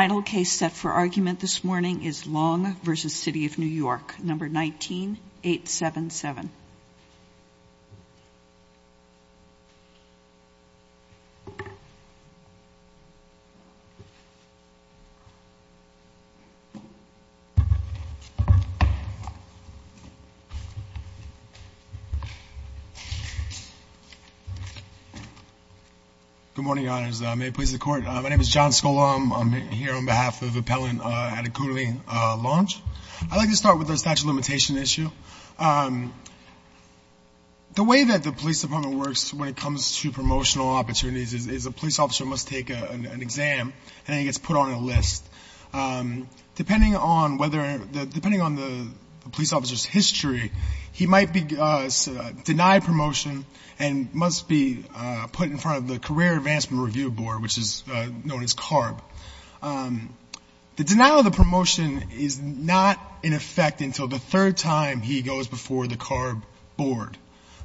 Final case set for argument this morning is Longe v. City of New York, No. 19-877. Good morning, Your Honors. My name is John Skolom. I'm here on behalf of Appellant Adekunle Longe. I'd like to start with the statute of limitation issue. The way that the police department works when it comes to promotional opportunities is a police officer must take an exam and then he gets put on a list. Depending on the police officer's history, he might be denied promotion and must be put in front of the Career Advancement Review Board, which is known as CARB. The denial of the promotion is not in effect until the third time he goes before the CARB board.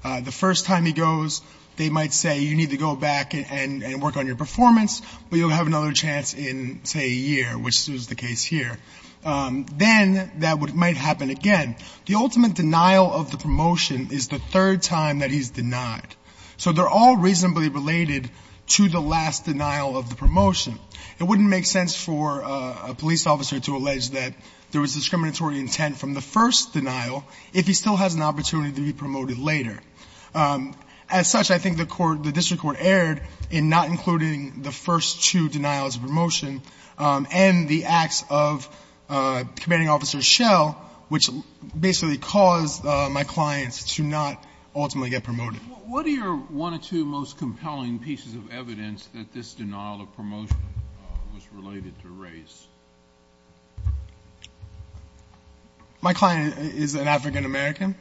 The first time he goes, they might say, you need to go back and work on your performance, but you'll have another chance in, say, a year, which is the case here. Then that might happen again. The ultimate denial of the promotion is the third time that he's denied. So they're all reasonably related to the last denial of the promotion. It wouldn't make sense for a police officer to allege that there was discriminatory intent from the first denial if he still has an opportunity to be promoted later. As such, I think the court, the district court erred in not including the first two denials of promotion and the acts of commanding officer Schell, which basically caused my clients to not ultimately get promoted. What are your one or two most compelling pieces of evidence that this denial of promotion was related to race? My client is an African American.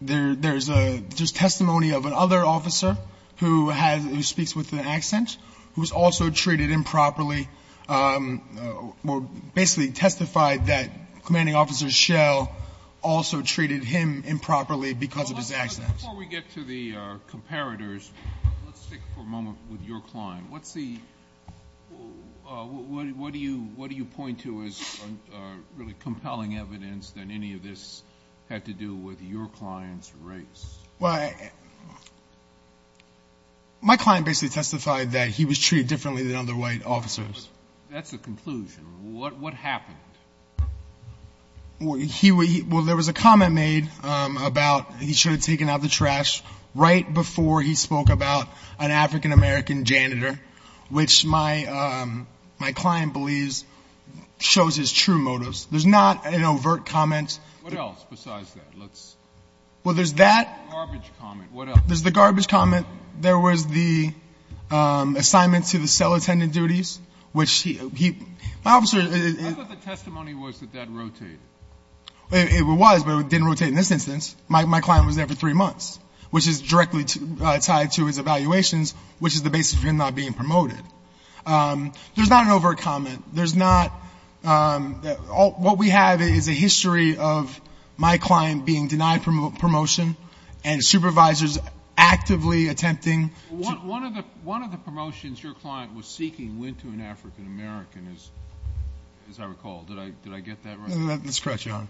There's testimony of another officer who speaks with an accent, who was also treated improperly, basically testified that commanding officer Schell also treated him improperly because of his accent. Before we get to the comparators, let's stick for a moment with your client. What do you point to as really compelling evidence that any of this had to do with your client's race? My client basically testified that he was treated differently than other white officers. That's a conclusion. What happened? Well, there was a comment made about he should have taken out the trash right before he spoke about an African American janitor, which my client believes shows his true motives. There's not an overt comment. What else besides that? Well, there's that. Garbage comment. What else? There's the garbage comment. There was the assignment to the cell attendant duties, which he – my officer I thought the testimony was that that rotated. It was, but it didn't rotate in this instance. My client was there for three months, which is directly tied to his evaluations, which is the basis for him not being promoted. There's not an overt comment. There's not – what we have is a history of my client being denied promotion and supervisors actively attempting to – As I recall, did I get that right? That's correct, Your Honor.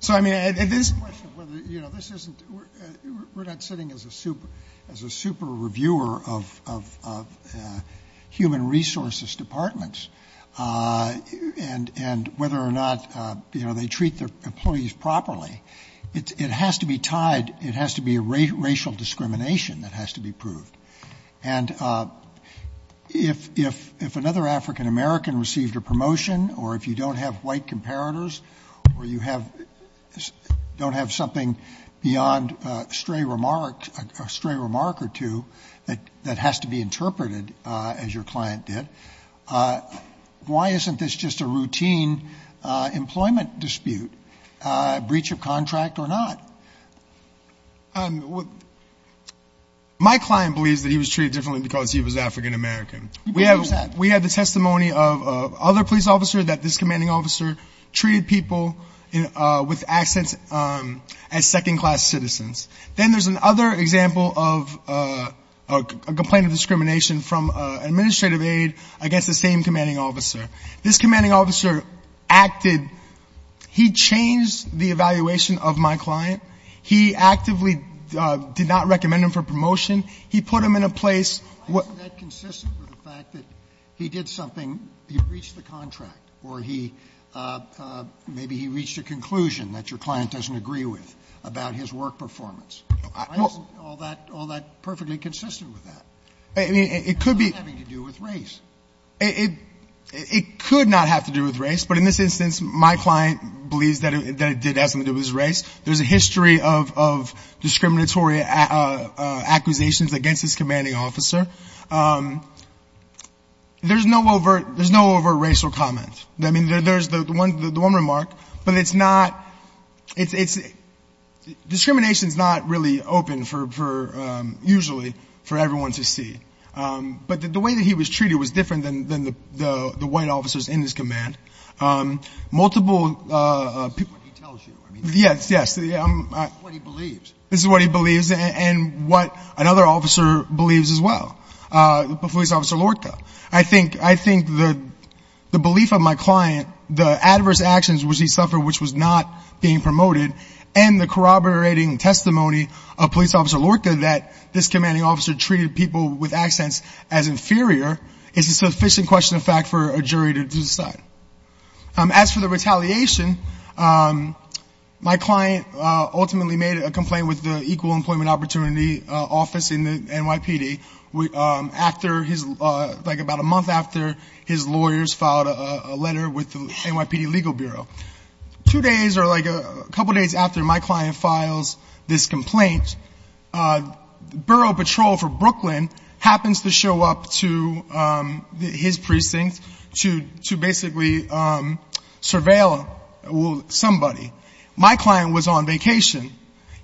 So, I mean, this is a question of whether, you know, this isn't – we're not sitting as a super – as a super reviewer of human resources departments and whether or not, you know, they treat their employees properly. It has to be tied – it has to be a racial discrimination that has to be proved. And if another African American received a promotion or if you don't have white comparators or you have – don't have something beyond a stray remark or two that has to be interpreted, as your client did, why isn't this just a routine employment dispute, breach of contract or not? My client believes that he was treated differently because he was African American. We have the testimony of other police officers that this commanding officer treated people with accents as second-class citizens. Then there's another example of a complaint of discrimination from an administrative aide against the same commanding officer. This commanding officer acted – he changed the evaluation of my client. He actively did not recommend him for promotion. He put him in a place – Why isn't that consistent with the fact that he did something – he breached the contract or he – maybe he reached a conclusion that your client doesn't agree with about his work performance? Why isn't all that perfectly consistent with that? I mean, it could be – It's not having to do with race. It could not have to do with race. But in this instance, my client believes that it did have something to do with his race. There's a history of discriminatory acquisitions against this commanding officer. There's no overt racial comment. I mean, there's the one remark, but it's not – discrimination is not really open for – usually for everyone to see. But the way that he was treated was different than the white officers in this command. Multiple – That's what he tells you. Yes, yes. That's what he believes. This is what he believes and what another officer believes as well, police officer Lorca. I think the belief of my client, the adverse actions which he suffered which was not being promoted, and the corroborating testimony of police officer Lorca that this commanding officer treated people with accents as inferior is a sufficient question of fact for a jury to decide. As for the retaliation, my client ultimately made a complaint with the Equal Employment Opportunity Office in the NYPD after his – like about a month after his lawyers filed a letter with the NYPD Legal Bureau. Two days or like a couple days after my client files this complaint, the Borough Patrol for Brooklyn happens to show up to his precinct to basically surveil somebody. My client was on vacation.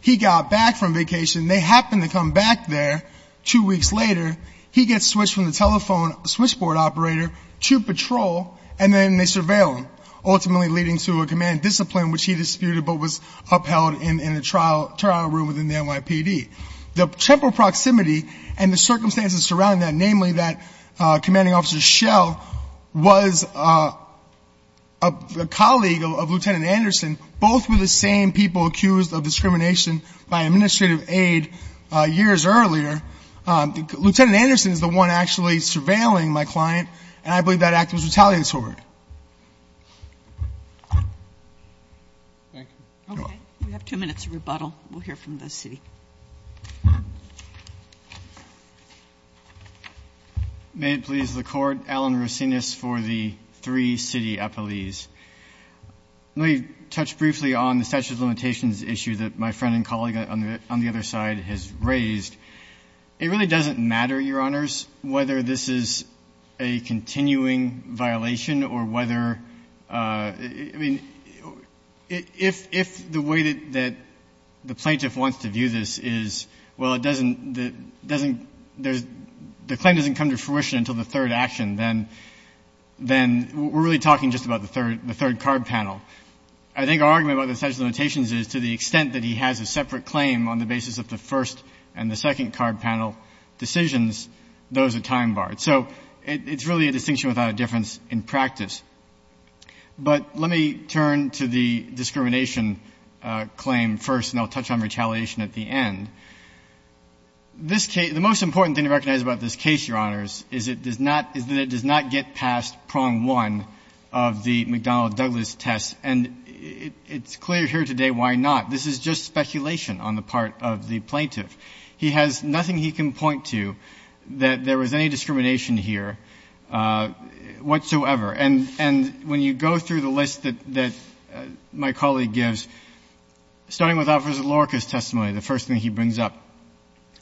He got back from vacation. They happened to come back there two weeks later. He gets switched from the telephone switchboard operator to patrol and then they surveil him, ultimately leading to a command discipline which he disputed but was The temporal proximity and the circumstances surrounding that, namely that commanding officer Schell was a colleague of Lieutenant Anderson. Both were the same people accused of discrimination by administrative aid years earlier. Lieutenant Anderson is the one actually surveilling my client and I believe that act was retaliatory. Thank you. Okay. We have two minutes of rebuttal. We'll hear from the city. May it please the Court. Alan Rosinas for the three city appellees. Let me touch briefly on the statute of limitations issue that my friend and colleague on the other side has raised. It really doesn't matter, Your Honors, whether this is a continuing violation or whether — I mean, if the way that the plaintiff wants to view this is, well, it doesn't — the claim doesn't come to fruition until the third action, then we're really talking just about the third card panel. I think our argument about the statute of limitations is to the extent that he has a separate claim on the basis of the first and the second card panel decisions, those are time-barred. So it's really a distinction without a difference in practice. But let me turn to the discrimination claim first, and I'll touch on retaliation at the end. This case — the most important thing to recognize about this case, Your Honors, is it does not — is that it does not get past prong one of the McDonnell-Douglas test. And it's clear here today why not. This is just speculation on the part of the plaintiff. He has nothing he can point to that there was any discrimination here whatsoever. And when you go through the list that my colleague gives, starting with Officer Lorca's testimony, the first thing he brings up,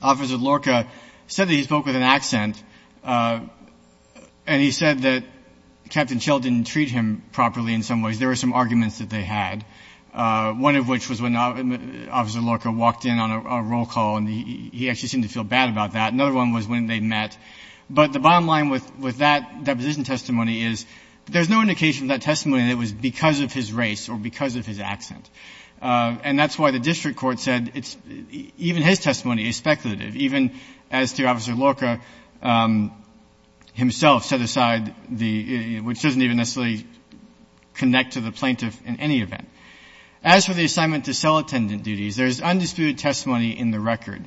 Officer Lorca said that he spoke with an accent, and he said that Captain Schell didn't treat him properly in some ways. There were some arguments that they had, one of which was when Officer Lorca walked in on a roll call, and he actually seemed to feel bad about that. Another one was when they met. But the bottom line with that deposition testimony is there's no indication of that testimony that it was because of his race or because of his accent. And that's why the district court said it's — even his testimony is speculative, even as to Officer Lorca himself set aside the — which doesn't even necessarily connect to the plaintiff in any event. As for the assignment to cell attendant duties, there's undisputed testimony in the record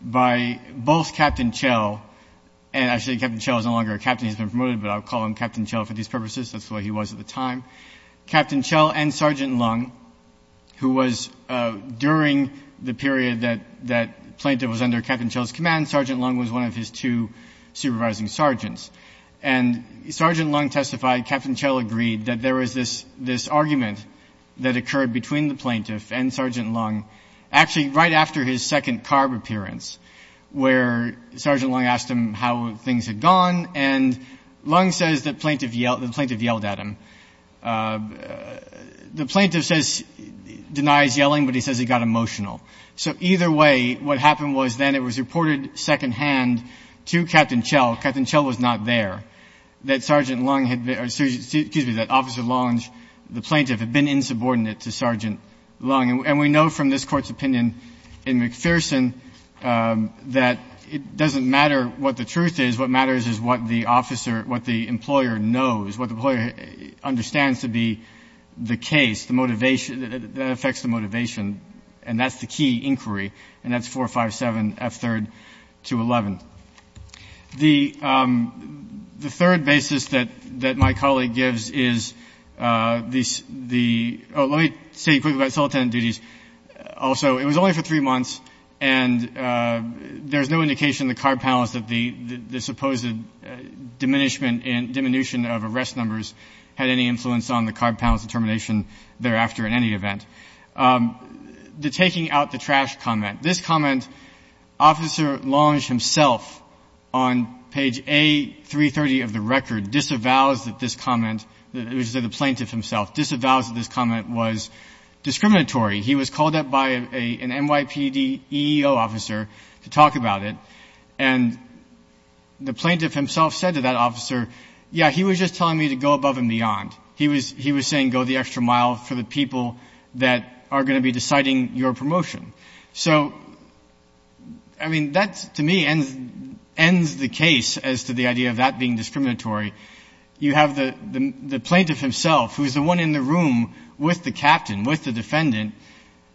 by both Captain Schell — and actually, Captain Schell is no longer a captain. He's been promoted, but I'll call him Captain Schell for these purposes. That's the way he was at the time. Captain Schell and Sergeant Lung, who was — during the period that the plaintiff was under Captain Schell's command, Sergeant Lung was one of his two supervising sergeants. And Sergeant Lung testified. Captain Schell agreed that there was this argument that occurred between the plaintiff and Sergeant Lung, actually right after his second CARB appearance, where Sergeant Lung asked him how things had gone. And Lung says that the plaintiff yelled at him. The plaintiff says — denies yelling, but he says he got emotional. So either way, what happened was then it was reported secondhand to Captain Schell — excuse me — that Officer Lunge, the plaintiff, had been insubordinate to Sergeant Lung. And we know from this Court's opinion in McPherson that it doesn't matter what the truth is. What matters is what the officer — what the employer knows, what the employer understands to be the case, the motivation — that affects the motivation. And that's the key inquiry. And that's 457F3-211. The third basis that my colleague gives is the — oh, let me say quickly about solitand duties. Also, it was only for three months, and there's no indication in the CARB panelist that the supposed diminishment and — diminution of arrest numbers had any influence on the CARB panelist's determination thereafter in any event. The taking out the trash comment. This comment, Officer Lunge himself, on page A330 of the record, disavows that this comment — it was the plaintiff himself — disavows that this comment was discriminatory. He was called up by an NYPD EEO officer to talk about it, and the plaintiff himself said to that officer, yeah, he was just telling me to go above and beyond. He was — he was saying, go the extra mile for the people that are going to be deciding your promotion. So, I mean, that, to me, ends the case as to the idea of that being discriminatory. You have the plaintiff himself, who is the one in the room with the captain, with the defendant,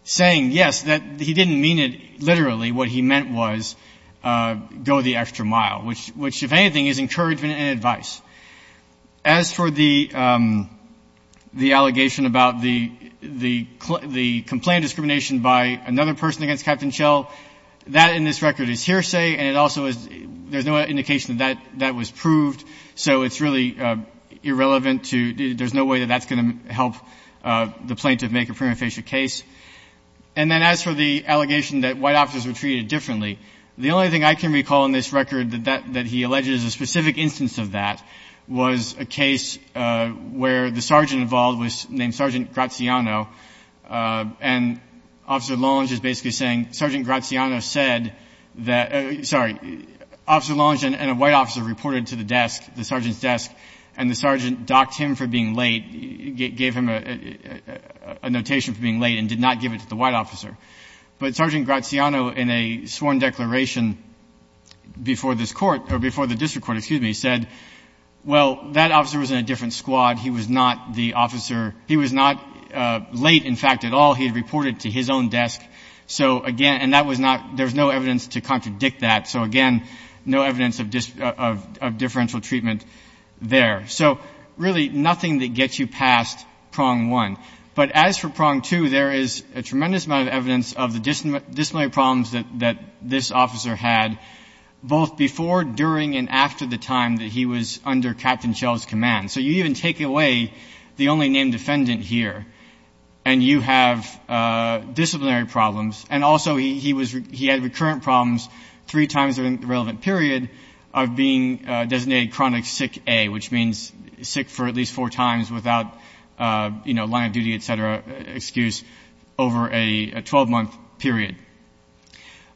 saying, yes, that he didn't mean it literally. What he meant was, go the extra mile, which, if anything, is encouragement and advice. As for the allegation about the complaint of discrimination by another person against Captain Schell, that in this record is hearsay, and it also is — there's no indication that that was proved. So it's really irrelevant to — there's no way that that's going to help the plaintiff make a prima facie case. And then as for the allegation that white officers were treated differently, the only thing I can recall in this record that he alleged is a specific instance of that was a case where the sergeant involved was named Sergeant Graziano, and Officer Lolling is basically saying Sergeant Graziano said that — sorry, Officer Lolling and a white officer reported to the desk, the sergeant's desk, and the sergeant docked him for being late, gave him a notation for being late, and did not give it to the white officer. But Sergeant Graziano, in a sworn declaration before this court — or before the district court, excuse me, said, well, that officer was in a different squad. He was not the officer — he was not late, in fact, at all. He had reported to his own desk. So, again — and that was not — there was no evidence to contradict that. So, again, no evidence of differential treatment there. So, really, nothing that gets you past prong one. But as for prong two, there is a tremendous amount of evidence of the disciplinary problems that this officer had, both before, during, and after the time that he was under Captain Schell's command. So, you even take away the only named defendant here, and you have disciplinary problems. And also, he had recurrent problems three times during the relevant period of being designated chronic sick A, which means sick for at least four times without, you know, time of duty, et cetera, excuse, over a 12-month period.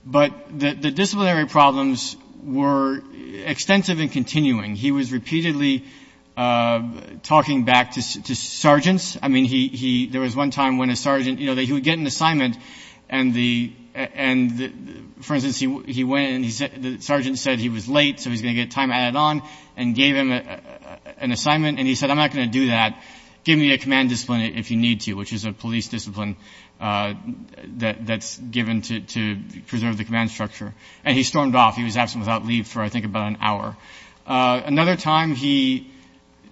But the disciplinary problems were extensive and continuing. He was repeatedly talking back to sergeants. I mean, he — there was one time when a sergeant — you know, he would get an assignment, and the — for instance, he went, and the sergeant said he was late, so he was going to get time added on, and gave him an assignment. And he said, I'm not going to do that. Give me a command discipline if you need to, which is a police discipline that's given to preserve the command structure. And he stormed off. He was absent without leave for, I think, about an hour. Another time, he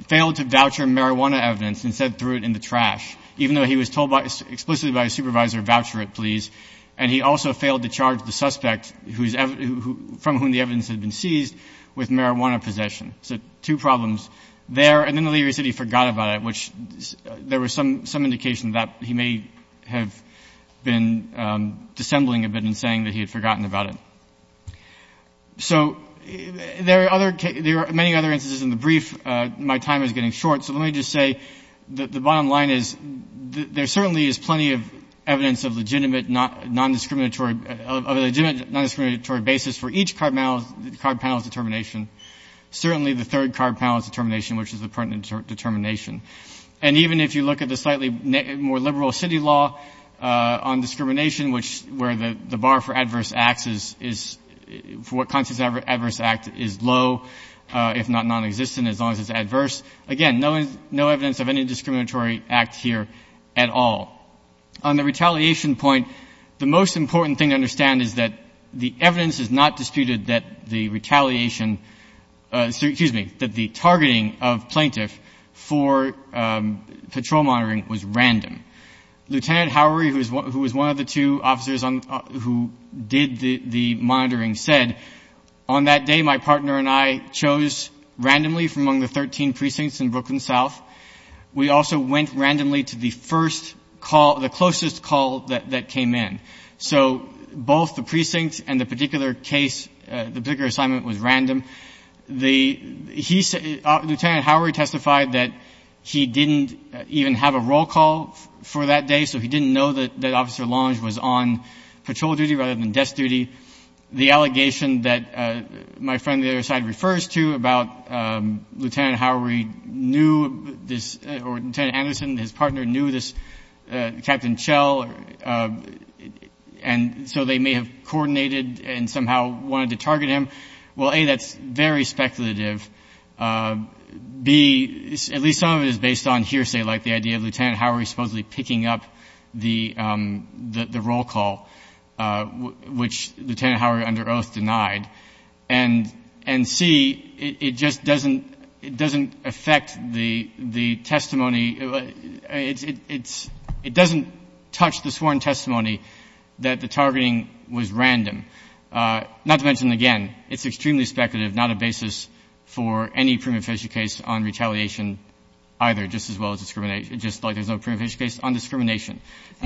failed to voucher marijuana evidence and said, threw it in the trash, even though he was told by — explicitly by his supervisor, voucher it, please. And he also failed to charge the suspect who's — from whom the evidence had been seized with marijuana possession. So, two problems there. And then the leader said he forgot about it, which — there was some indication that he may have been dissembling a bit in saying that he had forgotten about it. So, there are other — there are many other instances in the brief. My time is getting short, so let me just say that the bottom line is, there certainly is plenty of evidence of legitimate non-discriminatory — of a legitimate non-discriminatory basis for each card panel's determination, certainly the third card panel's determination, which is the pertinent determination. And even if you look at the slightly more liberal city law on discrimination, which — where the bar for adverse acts is — for what constitutes an adverse act is low, if not nonexistent, as long as it's adverse. Again, no evidence of any discriminatory act here at all. On the retaliation point, the most important thing to understand is that the evidence is not disputed that the retaliation — excuse me, that the targeting of plaintiff for patrol monitoring was random. Lieutenant Howery, who was one of the two officers who did the monitoring, said, on that day, my partner and I chose randomly from among the 13 precincts in Brooklyn South. We also went randomly to the first call — the closest call that came in. So both the precincts and the particular case, the particular assignment was random. The — he — Lieutenant Howery testified that he didn't even have a roll call for that day, so he didn't know that Officer Longe was on patrol duty rather than desk duty. The allegation that my friend on the other side refers to about Lieutenant Howery knew this — or Lieutenant Anderson, his partner, knew this — Captain Chell, and so they may have coordinated and somehow wanted to target him, well, A, that's very speculative. B, at least some of it is based on hearsay, like the idea of Lieutenant Howery supposedly picking up the roll call, which Lieutenant Howery under oath denied. And C, it just doesn't — it doesn't affect the testimony — it doesn't touch the sworn testimony that the targeting was random, not to mention, again, it's extremely speculative, not a basis for any prima facie case on retaliation either, just as well as discrimination — just like there's no prima facie case on discrimination.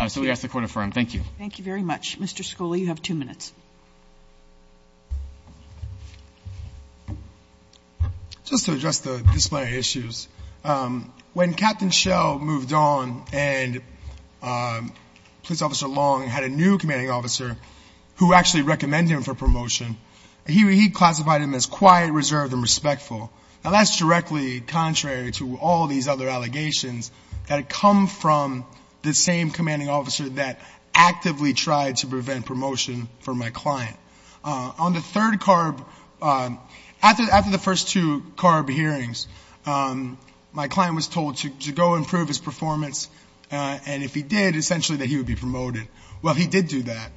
So we ask the Court affirm. Thank you. Thank you very much. Mr. Scully, you have two minutes. Just to address the disciplinary issues, when Captain Chell moved on and Police Officer Longe had a new commanding officer who actually recommended him for promotion, he classified him as quiet, reserved, and respectful. Now, that's directly contrary to all these other allegations that come from the same commanding officer that actively tried to prevent promotion for my client. On the third CARB — after the first two CARB hearings, my client was told to go improve his performance, and if he did, essentially that he would be promoted. Well, he did do that.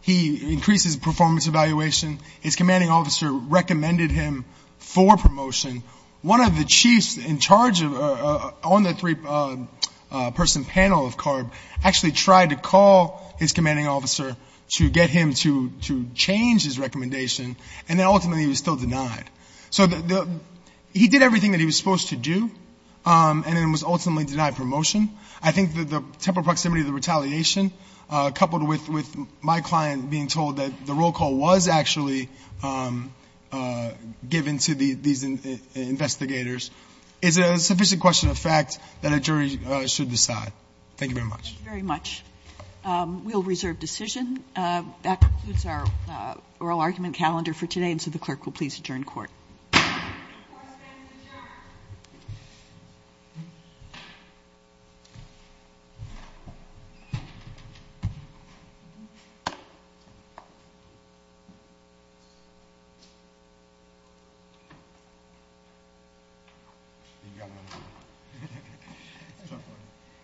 He increased his performance evaluation. His commanding officer recommended him for promotion. One of the chiefs in charge on the three-person panel of CARB actually tried to call his commanding officer to get him to change his recommendation, and then ultimately he was still denied. So he did everything that he was supposed to do, and then was ultimately denied promotion. I think that the temporal proximity of the retaliation, coupled with my client being told that the roll call was actually given to these investigators, is a sufficient question of fact that a jury should decide. Thank you very much. Thank you very much. We'll reserve decision. That concludes our oral argument calendar for today, and so the clerk will please adjourn court. Thank you.